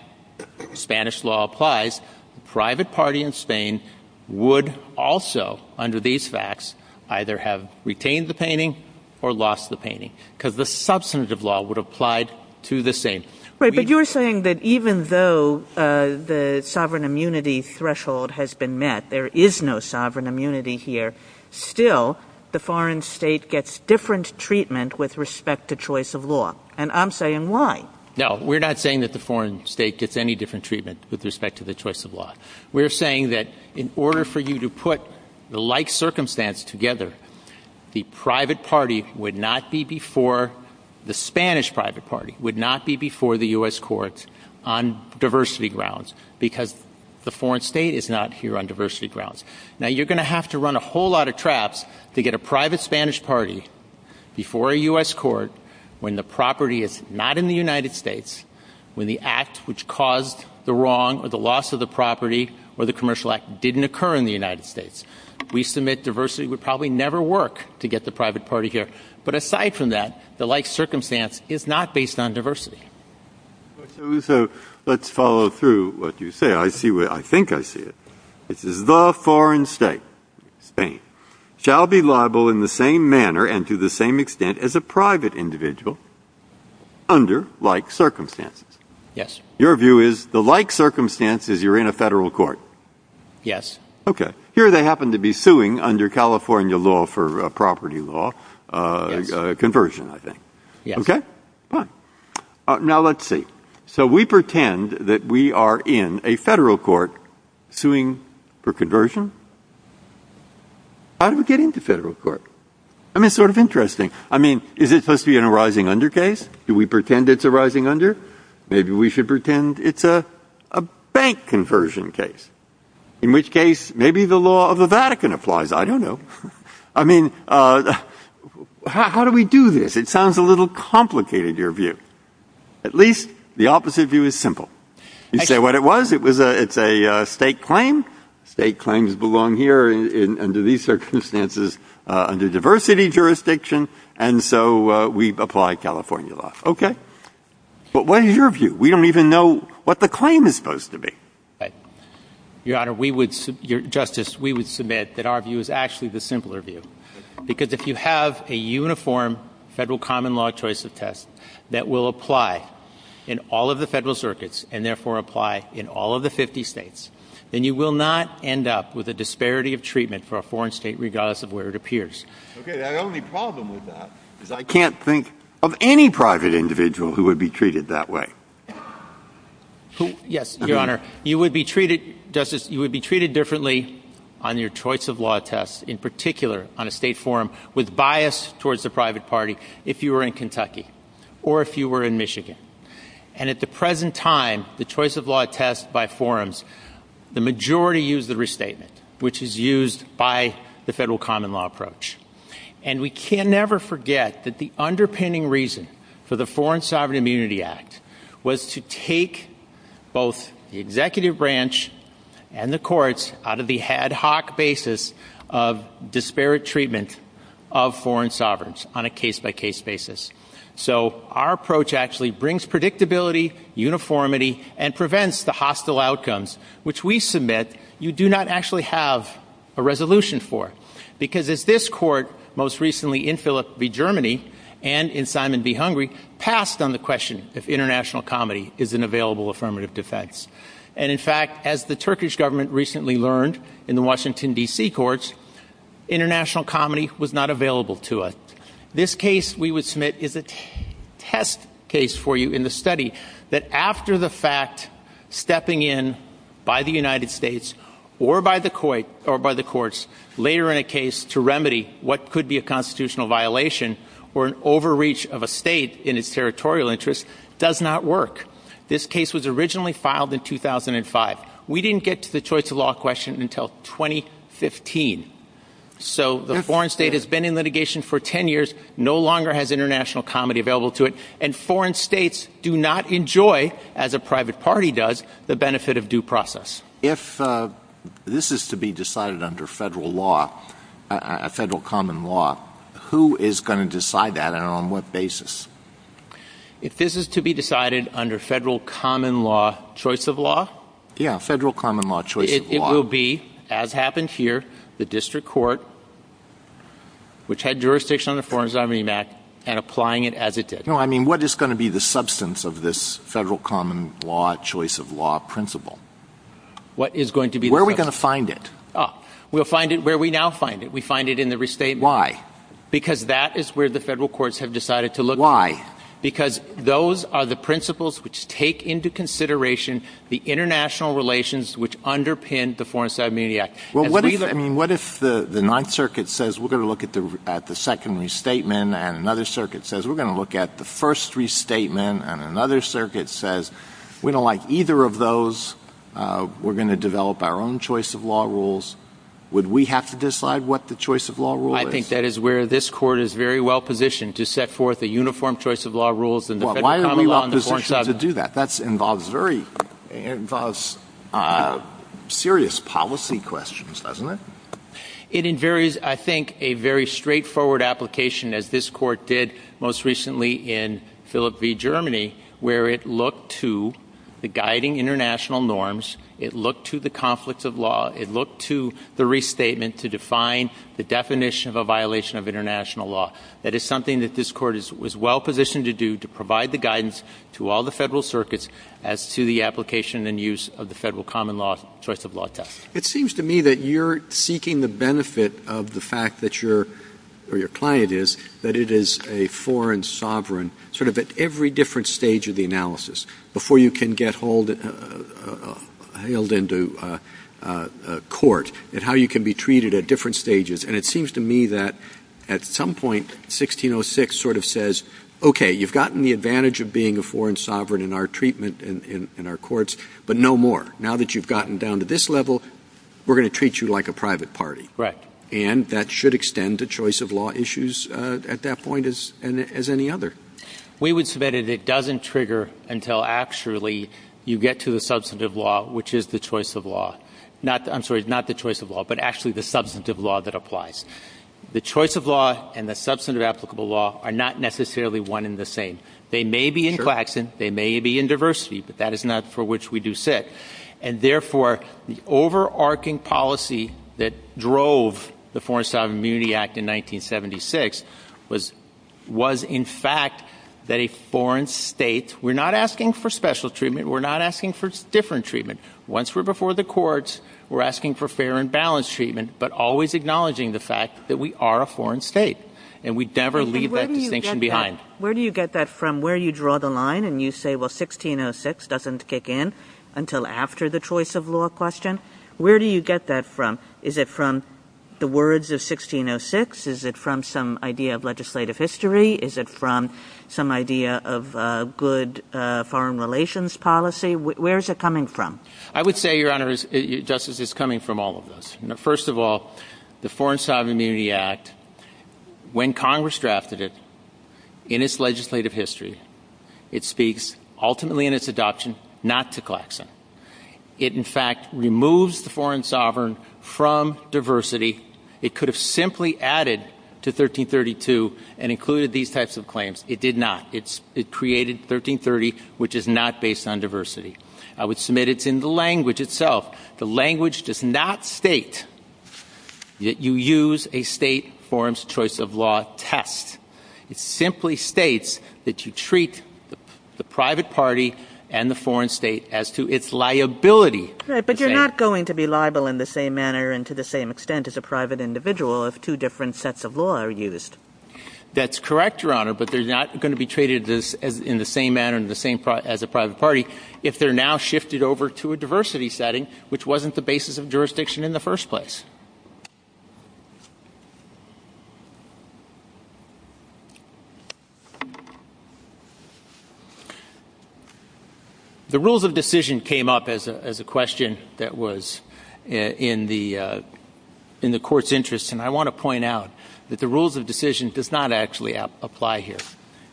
Spanish law applies, the private party in Spain would also, under these facts, either have retained the painting or lost the painting. Because the substantive law would have applied to the same. Right, but you're saying that even though the sovereign immunity threshold has been met, there is no sovereign immunity here, still the foreign state gets different treatment with respect to choice of law. And I'm saying why? No, we're not saying that the foreign state gets any different treatment with respect to the choice of law. We're saying that in order for you to put the like circumstance together, the private party would not be before the Spanish private party, would not be before the U.S. court on diversity grounds. Because the foreign state is not here on diversity grounds. Now you're going to have to run a whole lot of traps to get a private Spanish party before a U.S. court when the property is not in the United States, when the act which caused the wrong or the loss of the property or the commercial act didn't occur in the United States. We submit diversity would probably never work to get the private party here. But aside from that, the like circumstance is not based on diversity. So let's follow through what you say. I see what I think I see it. This is the foreign state. Spain shall be liable in the same manner and to the same extent as a private individual under like circumstances. Yes. Your view is the like circumstances you're in a federal court. Yes. Okay. Here they happen to be suing under California law for a property law conversion, I think. Yes. Okay. Now, let's see. So we pretend that we are in a federal court suing for conversion. How do we get into federal court? I mean, it's sort of interesting. I mean, is it supposed to be an arising under case? Do we pretend it's arising under? Maybe we should pretend it's a bank conversion case, in which case maybe the law of the Vatican applies. I don't know. I mean, how do we do this? It sounds a little complicated, your view. At least the opposite view is simple. You say what it was. It's a state claim. State claims belong here under these circumstances under diversity jurisdiction. And so we apply California law. Okay. But what is your view? We don't even know what the claim is supposed to be. Right. Your Honor, we would — Justice, we would submit that our view is actually the simpler view, because if you have a uniform Federal common law choice of test that will apply in all of the Federal circuits and, therefore, apply in all of the 50 States, then you will not end up with a disparity of treatment for a foreign State regardless of where it appears. Okay. The only problem with that is I can't think of any private individual who would be treated that way. Yes, your Honor. You would be treated — Justice, you would be treated differently on your choice of law test, in particular on a State forum, with bias towards the private party if you were in Kentucky or if you were in Michigan. And at the present time, the choice of law test by forums, the majority use the restatement, which is used by the Federal common law approach. And we can never forget that the underpinning reason for the Foreign Sovereign Immunity Act was to take both the executive branch and the courts out of the ad hoc basis of disparate treatment of foreign sovereigns on a case-by-case basis. So our approach actually brings predictability, uniformity, and prevents the hostile outcomes which we submit you do not actually have a resolution for. Because as this Court, most recently in Philipp v. Germany and in Simon v. Hungary, passed on the question if international comedy is an available affirmative defense. And in fact, as the Turkish government recently learned in the Washington, D.C., courts, international comedy was not available to it. This case we would submit is a test case for you in the study that after the fact, stepping in by the United States or by the courts later in a case to remedy what could be a constitutional violation or an overreach of a state in its territorial interest does not work. This case was originally filed in 2005. We didn't get to the choice of law question until 2015. So the foreign state has been in litigation for 10 years, no longer has international comedy been available to it, and foreign states do not enjoy, as a private party does, the benefit of due process. If this is to be decided under Federal law, Federal common law, who is going to decide that and on what basis? If this is to be decided under Federal common law choice of law? Yeah, Federal common law choice of law. It will be, as happened here, the district court, which had jurisdiction on the Foreign State Act, and applying it as it did. No, I mean, what is going to be the substance of this Federal common law choice of law principle? What is going to be the substance? Where are we going to find it? We'll find it where we now find it. We find it in the restatement. Why? Because that is where the Federal courts have decided to look. Why? Because those are the principles which take into consideration the international relations which underpin the Foreign State Ability Act. Well, what if, I mean, what if the Ninth Circuit says, we're going to look at the second restatement, and another circuit says, we're going to look at the first restatement, and another circuit says, we don't like either of those, we're going to develop our own choice of law rules. Would we have to decide what the choice of law rule is? I think that is where this Court is very well positioned to set forth a uniform choice of law rules in the Federal common law and the Foreign State law. Well, why are we well positioned to do that? That involves very serious policy questions, doesn't it? It invaries, I think, a very straightforward application, as this Court did most recently in Philipp v. Germany, where it looked to the guiding international norms, it looked to the conflicts of law, it looked to the restatement to define the definition of a violation of international law. That is something that this Court is well positioned to do, to provide the guidance to all the Federal circuits as to the application and use of the Federal common law choice of law test. It seems to me that you're seeking the benefit of the fact that you're, or your client is, that it is a foreign sovereign, sort of at every different stage of the analysis, before you can get held into court, and how you can be treated at different stages. And it seems to me that at some point, 1606 sort of says, okay, you've gotten the advantage of being a foreign sovereign in our treatment, in our courts, but no more. Now that you've gotten down to this level, we're going to treat you like a private party. Right. And that should extend to choice of law issues at that point, as any other. We would submit that it doesn't trigger until actually you get to the substantive law, which is the choice of law. I'm sorry, not the choice of law, but actually the substantive law that applies. The choice of law and the substantive applicable law are not necessarily one and the same. They may be in Claxton, they may be in diversity, but that is not for which we do sit. And therefore, the overarching policy that drove the Foreign Sovereign Immunity Act in 1976 was in fact that a foreign state, we're not asking for special treatment, we're not asking for different treatment. Once we're before the courts, we're asking for fair and balanced treatment, but always acknowledging the fact that we are a foreign state. And we never leave that distinction behind. Where do you get that from, where you draw the line and you say, well, 1606 doesn't kick in until after the choice of law question? Where do you get that from? Is it from the words of 1606? Is it from some idea of legislative history? Is it from some idea of good foreign relations policy? Where is it coming from? I would say, Your Honor, Justice, it's coming from all of those. First of all, the Foreign Sovereign Immunity Act, when Congress drafted it, in its legislative history, it speaks ultimately in its adoption not to Claxton. It, in fact, removes the foreign sovereign from diversity. It could have simply added to 1332 and included these types of claims. It did not. It created 1330, which is not based on diversity. I would submit it's in the language itself. The language does not state that you use a state forum's choice of law test. It simply states that you treat the private party and the foreign state as to its liability. Right, but you're not going to be liable in the same manner and to the same extent as a private individual if two different sets of law are used. That's correct, Your Honor, but they're not going to be treated in the same manner and as a private party. If they're now shifted over to a diversity setting, which wasn't the basis of jurisdiction in the first place. The rules of decision came up as a question that was in the court's interest, and I want to point out that the rules of decision does not actually apply here.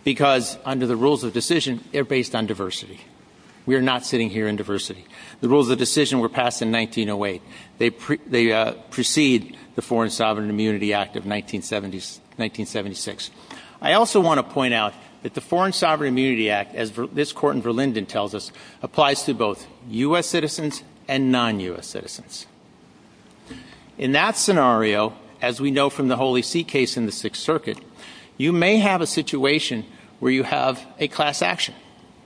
Because under the rules of decision, they're based on diversity. We are not sitting here in diversity. The rules of decision were passed in 1908. They precede the Foreign Sovereign Immunity Act of 1976. I also want to point out that the Foreign Sovereign Immunity Act, as this court in Verlinden tells us, applies to both U.S. citizens and non-U.S. citizens. In that scenario, as we know from the Holy See case in the Sixth Circuit, you may have a situation where you have a class action,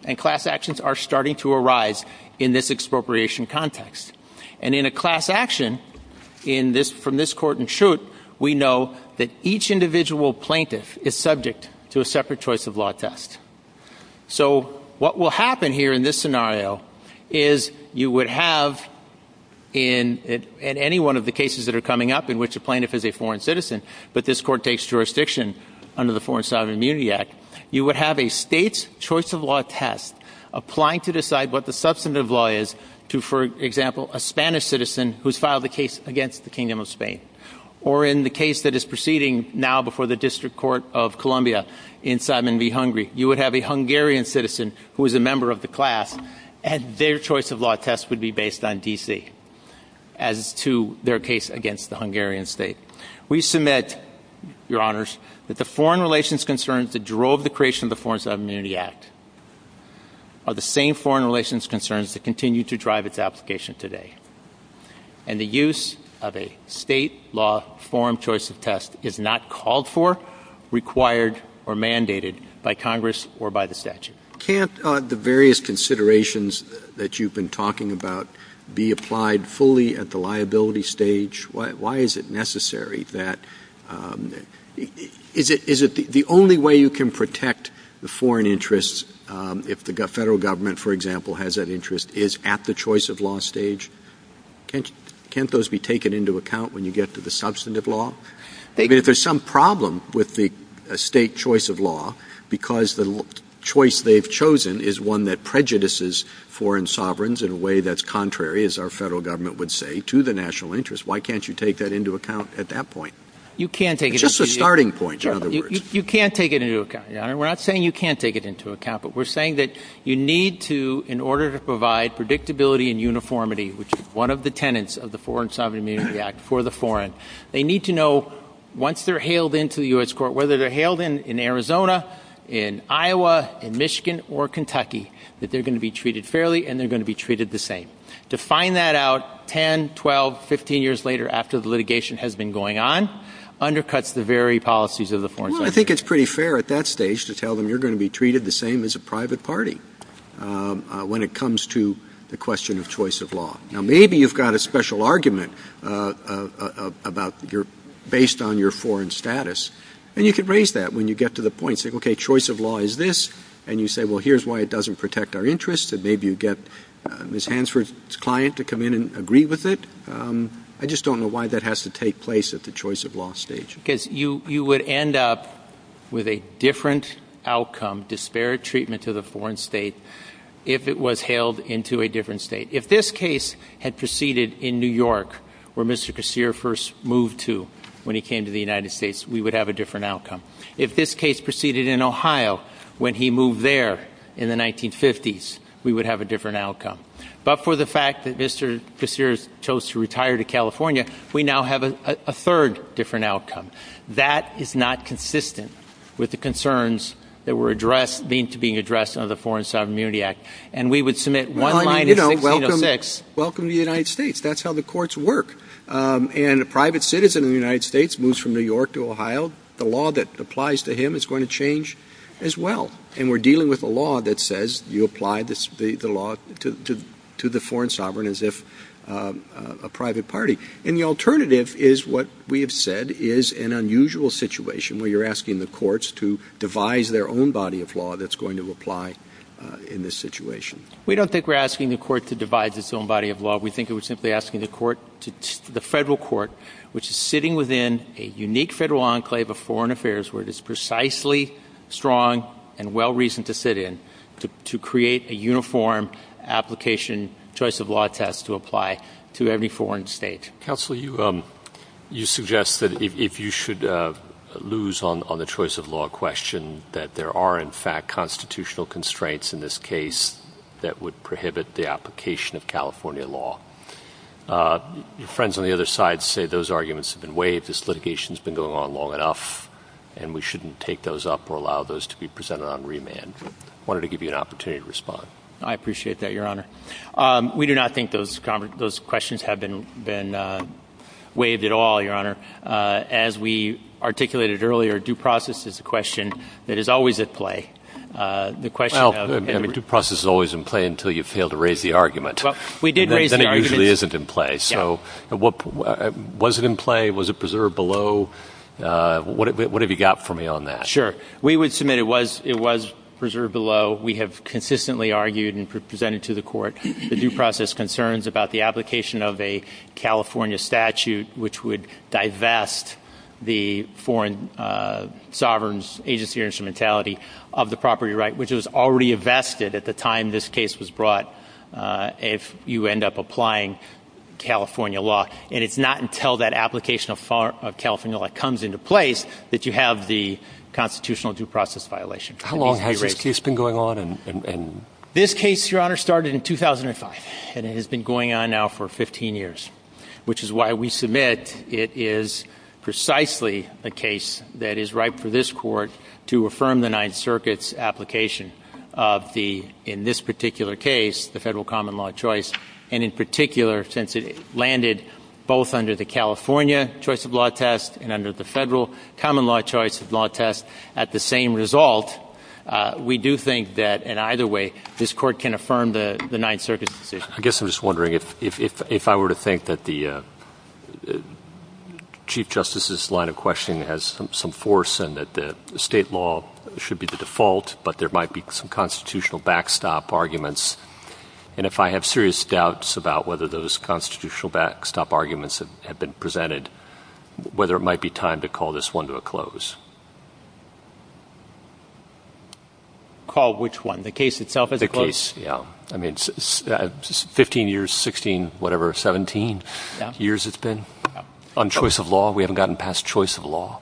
and class actions are starting to arise in this expropriation context. And in a class action from this court in Trout, we know that each individual plaintiff is subject to a separate choice of law test. So what will happen here in this scenario is you would have, in any one of the cases that are coming up in which a plaintiff is a foreign citizen, but this court takes jurisdiction under the Foreign Sovereign Immunity Act, you would have a state's choice of law test applying to decide what the substantive law is to, for example, a Spanish citizen who's filed a case against the Kingdom of Spain. Or in the case that is proceeding now before the District Court of Columbia in Simon v. Hungary, you would have a Hungarian citizen who is a member of the class, and their choice of law test would be based on D.C. as to their case against the Hungarian state. We submit, Your Honors, that the foreign relations concerns that drove the creation of the Foreign Sovereign Immunity Act are the same foreign relations concerns that continue to drive its application today. And the use of a state law forum choice of test is not called for, required, or mandated by Congress or by the statute. Roberts. Can't the various considerations that you've been talking about be applied fully at the liability stage? Why is it necessary that — is it the only way you can protect the foreign interests if the Federal Government, for example, has that interest, is at the choice of law stage? Can't those be taken into account when you get to the substantive law? I mean, if there's some problem with the state choice of law because the choice they've chosen is one that prejudices foreign sovereigns in a way that's contrary, as our Federal Government would say, to the national interest, why can't you take that into account at that point? It's just a starting point, in other words. You can't take it into account, Your Honor. We're not saying you can't take it into account, but we're saying that you need to, in order to provide predictability and uniformity, which is one of the tenets of the Foreign Sovereign Immunity Act for the foreign, they need to know, once they're hailed into the U.S. Court, whether they're hailed in Arizona, in Iowa, in Michigan, or Kentucky, that they're going to be treated fairly and they're going to be treated the same. To find that out 10, 12, 15 years later after the litigation has been going on undercuts the very policies of the Foreign Sovereign Immunity Act. Well, I think it's pretty fair at that stage to tell them you're going to be treated the same as a private party when it comes to the question of choice of law. Now, maybe you've got a special argument based on your foreign status, and you can raise that when you get to the point, say, okay, choice of law is this, and you say, well, here's why it doesn't protect our interests, and maybe you get Ms. Hansford's client to come in and agree with it. I just don't know why that has to take place at the choice of law stage. Because you would end up with a different outcome, disparate treatment to the foreign state, if it was hailed into a different state. If this case had proceeded in New York, where Mr. Kassir first moved to when he came to the United States, we would have a different outcome. If this case proceeded in Ohio when he moved there in the 1950s, we would have a different outcome. But for the fact that Mr. Kassir chose to retire to California, we now have a third different outcome. That is not consistent with the concerns that were addressed, being addressed under the Foreign Sovereign Immunity Act. And we would submit one line in 1606. Welcome to the United States. That's how the courts work. And a private citizen of the United States moves from New York to Ohio, the law that applies to him is going to change as well. And we're dealing with a law that says you apply the law to the foreign sovereign as if a private party. And the alternative is what we have said is an unusual situation, where you're asking the courts to devise their own body of law that's going to apply in this situation. We don't think we're asking the court to devise its own body of law. We think we're simply asking the federal court, which is sitting within a unique federal enclave of foreign affairs, where it is precisely strong and well-reasoned to sit in, to create a uniform application choice of law test to apply to every foreign state. Counsel, you suggest that if you should lose on the choice of law question, that there are, in fact, constitutional constraints in this case that would prohibit the application of California law. Your friends on the other side say those arguments have been waived, this litigation has been going on long enough, and we shouldn't take those up or allow those to be presented on remand. I wanted to give you an opportunity to respond. I appreciate that, Your Honor. We do not think those questions have been waived at all, Your Honor. As we articulated earlier, due process is a question that is always at play. Well, due process is always in play until you fail to raise the argument. Well, we did raise the argument. Then it usually isn't in play. So was it in play? Was it preserved below? What have you got for me on that? Sure. We would submit it was preserved below. We have consistently argued and presented to the court the due process concerns about the application of a California statute, which would divest the foreign sovereign's agency or instrumentality of the property right, which was already invested at the time this case was brought, if you end up applying California law. And it's not until that application of California law comes into place that you have the constitutional due process violation. How long has this case been going on? This case, Your Honor, started in 2005, and it has been going on now for 15 years, which is why we submit it is precisely a case that is ripe for this court to affirm the Ninth Circuit's application of the, in this particular case, the federal common law choice. And in particular, since it landed both under the California choice of law test and under the federal common law choice of law test, at the same result, we do think that, in either way, this court can affirm the Ninth Circuit's decision. I guess I'm just wondering if I were to think that the Chief Justice's line of questioning has some force and that the state law should be the default, but there might be some constitutional backstop arguments. And if I have serious doubts about whether those constitutional backstop arguments have been presented, whether it might be time to call this one to a close. Call which one? The case itself as a close? The case, yeah. I mean, 15 years, 16, whatever, 17 years it's been on choice of law. We haven't gotten past choice of law.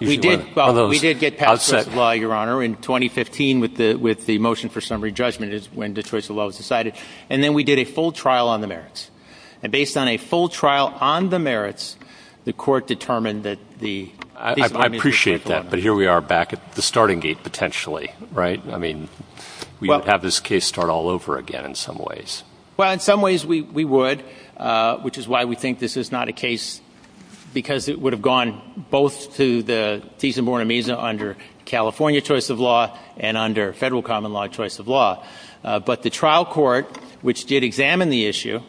We did. Well, we did get past choice of law, Your Honor, in 2015 with the motion for summary judgment is when the choice of law was decided. And then we did a full trial on the merits. And based on a full trial on the merits, the court determined that the piece of argument was correct, Your Honor. I appreciate that. But here we are back at the starting gate potentially, right? I mean, we could have this case start all over again in some ways. Well, in some ways we would, which is why we think this is not a case because it would have gone both to the Thies and Buena Mesa under California choice of law and under federal common law choice of law. But the trial court, which did examine the issue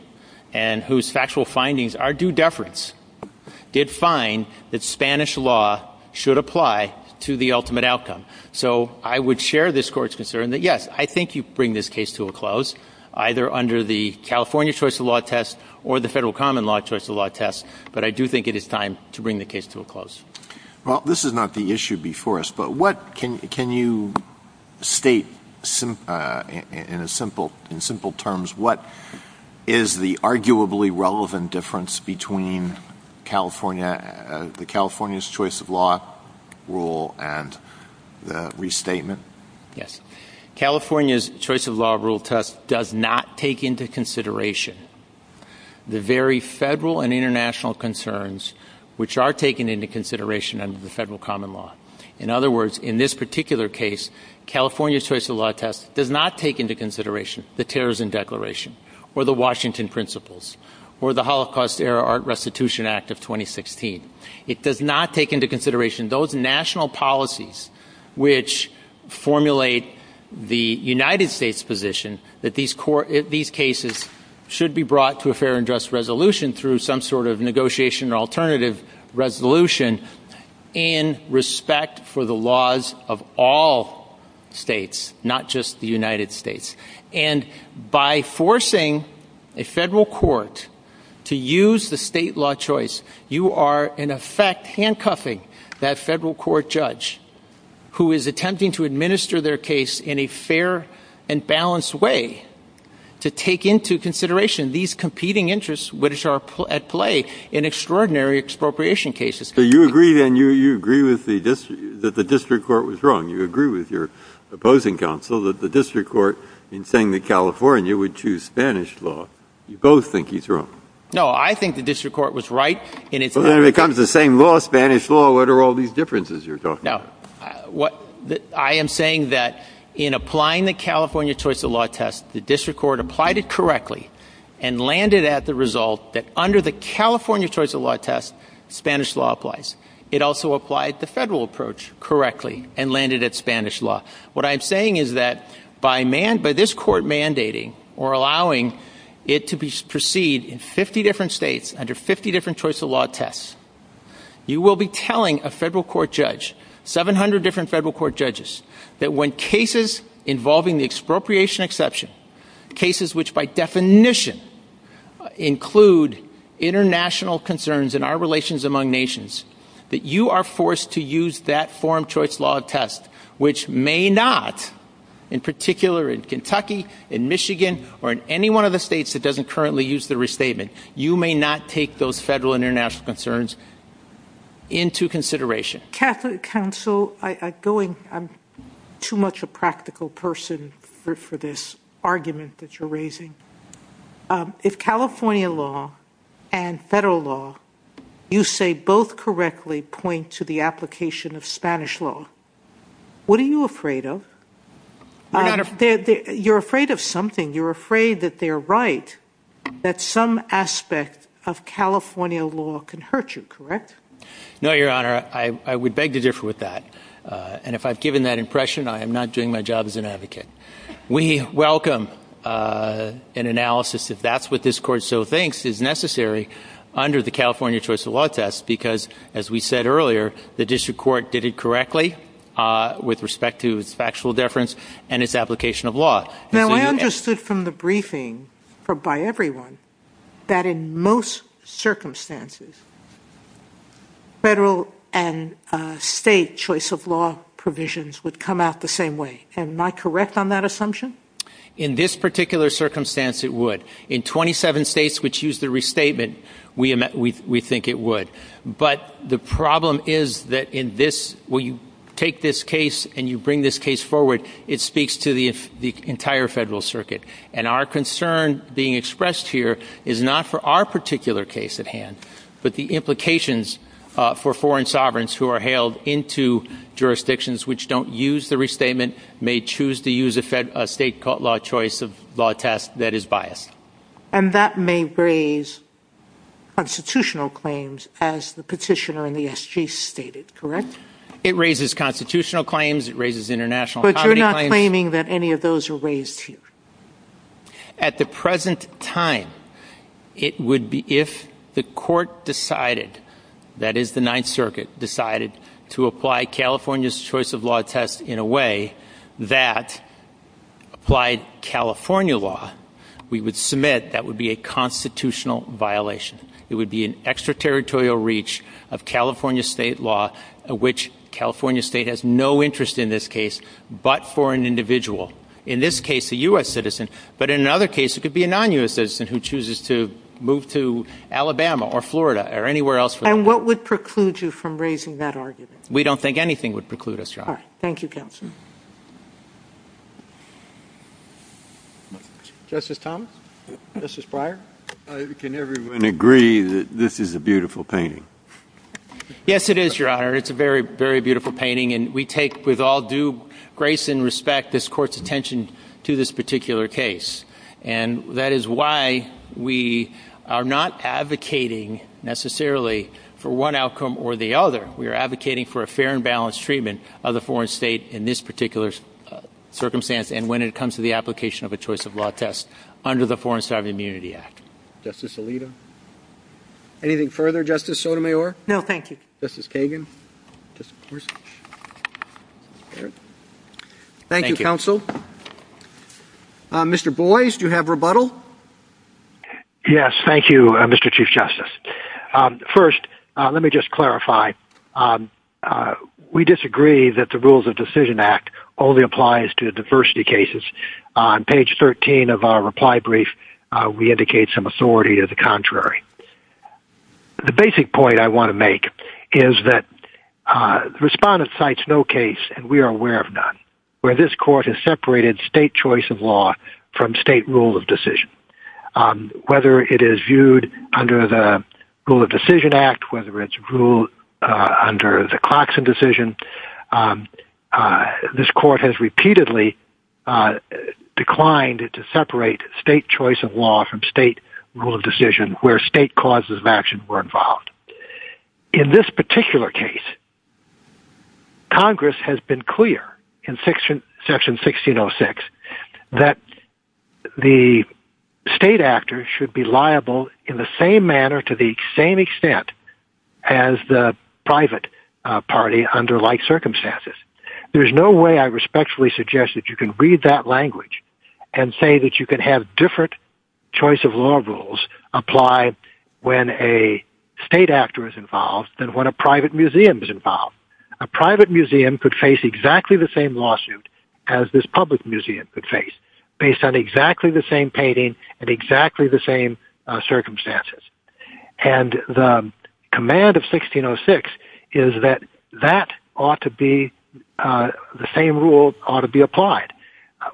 and whose factual findings are due deference, did find that Spanish law should apply to the ultimate outcome. So I would share this Court's concern that, yes, I think you bring this case to a close, either under the California choice of law test or the federal common law choice of law test. But I do think it is time to bring the case to a close. Well, this is not the issue before us. But what can you state in simple terms? What is the arguably relevant difference between the California's choice of law rule and the restatement? Yes. California's choice of law rule test does not take into consideration the very federal and international concerns which are taken into consideration under the federal common law. In other words, in this particular case, California's choice of law test does not take into consideration the Terrorism Declaration or the Washington Principles or the Holocaust-era Art Restitution Act of 2016. It does not take into consideration those national policies which formulate the United States position that these cases should be brought to a fair and just resolution through some sort of negotiation or alternative resolution in respect for the laws of all states, not just the United States. And by forcing a federal court to use the state law choice, you are in effect handcuffing that federal court judge who is attempting to administer their case in a fair and balanced way to take into consideration these competing interests which are at play in extraordinary expropriation cases. So you agree then, you agree with the district, that the district court was wrong. You agree with your opposing counsel that the district court in saying that California would choose Spanish law. You both think he's wrong. No, I think the district court was right. Well, then it becomes the same law, Spanish law. What are all these differences you're talking about? Now, I am saying that in applying the California choice of law test, the district court applied it correctly and landed at the result that under the California choice of law test, Spanish law applies. It also applied the federal approach correctly and landed at Spanish law. What I am saying is that by this court mandating or allowing it to proceed in 50 different states under 50 different choice of law tests, you will be telling a federal court judge, 700 different federal court judges, that when cases involving the expropriation exception, cases which by definition include international concerns in our relations among nations, that you are forced to use that foreign choice law test which may not, in particular in Kentucky, in Michigan, or in any one of the states that doesn't currently use the restatement, you may not take those federal and international concerns into consideration. Counsel, I'm too much a practical person for this argument that you're raising. If California law and federal law, you say both correctly, point to the application of Spanish law, what are you afraid of? You're afraid of something. You're afraid that they're right, that some aspect of California law can hurt you, correct? No, Your Honor. I would beg to differ with that. And if I've given that impression, I am not doing my job as an advocate. We welcome an analysis if that's what this court so thinks is necessary under the California choice of law test because, as we said earlier, the district court did it correctly with respect to its factual deference and its application of law. Now, I understood from the briefing by everyone that in most circumstances, federal and state choice of law provisions would come out the same way. Am I correct on that assumption? In this particular circumstance, it would. In 27 states which use the restatement, we think it would. But the problem is that when you take this case and you bring this case forward, it speaks to the entire federal circuit. And our concern being expressed here is not for our particular case at hand, but the implications for foreign sovereigns who are hailed into jurisdictions which don't use the restatement, may choose to use a state law choice of law test that is biased. And that may raise constitutional claims, as the petitioner in the SG stated, correct? It raises constitutional claims. It raises international comedy claims. But you're not claiming that any of those are raised here? At the present time, it would be if the court decided, that is the Ninth Circuit, decided to apply California's choice of law test in a way that applied California law, we would submit that would be a constitutional violation. It would be an extraterritorial reach of California State law, which California State has no interest in this case but for an individual. In this case, a U.S. citizen. But in another case, it could be a non-U.S. citizen who chooses to move to Alabama or Florida or anywhere else. And what would preclude you from raising that argument? We don't think anything would preclude us, Your Honor. Thank you, counsel. Justice Thomas? Justice Breyer? Can everyone agree that this is a beautiful painting? Yes, it is, Your Honor. It's a very, very beautiful painting. And we take with all due grace and respect this Court's attention to this particular case. And that is why we are not advocating necessarily for one outcome or the other. We are advocating for a fair and balanced treatment of the foreign state in this particular case. In this particular circumstance and when it comes to the application of a choice of law test under the Foreign State of Immunity Act. Justice Alito? Anything further, Justice Sotomayor? No, thank you. Justice Kagan? Thank you, counsel. Mr. Boies, do you have rebuttal? Yes, thank you, Mr. Chief Justice. First, let me just clarify. We disagree that the Rules of Decision Act only applies to diversity cases. On page 13 of our reply brief, we indicate some authority of the contrary. The basic point I want to make is that the Respondent cites no case, and we are aware of none, where this Court has separated state choice of law from state rule of decision. Whether it is viewed under the Rule of Decision Act, whether it's ruled under the Clarkson decision, this Court has repeatedly declined to separate state choice of law from state rule of decision where state causes of action were involved. In this particular case, Congress has been clear in Section 1606 that the state actor should be liable in the same manner to the same extent as the private party under like circumstances. There is no way I respectfully suggest that you can read that language and say that you can have different choice of law rules apply when a state actor is involved than when a private museum is involved. A private museum could face exactly the same lawsuit as this public museum could face, based on exactly the same painting and exactly the same circumstances. And the command of 1606 is that the same rule ought to be applied,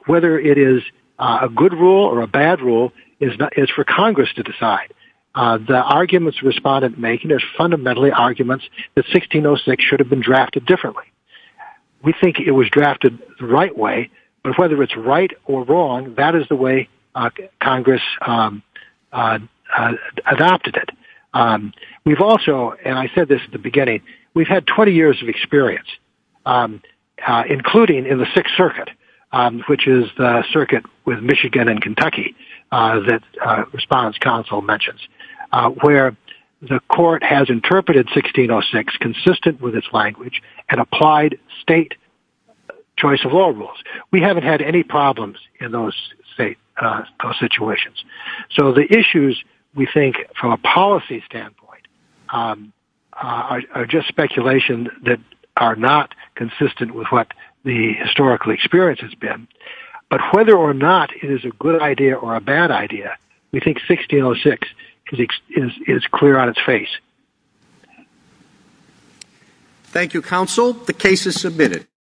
whether it is a good rule or a bad rule is for Congress to decide. The arguments Respondent make are fundamentally arguments that 1606 should have been drafted differently. We think it was drafted the right way, but whether it's right or wrong, that is the way Congress adopted it. We've also, and I said this at the beginning, we've had 20 years of experience, including in the Sixth Circuit, which is the circuit with Michigan and Kentucky that Respondent's counsel mentions, where the court has interpreted 1606 consistent with its language and applied state choice of law rules. We haven't had any problems in those situations. So the issues we think from a policy standpoint are just speculation that are not consistent with what the historical experience has been. But whether or not it is a good idea or a bad idea, we think 1606 is clear on its face. Thank you, Counsel. The case is submitted.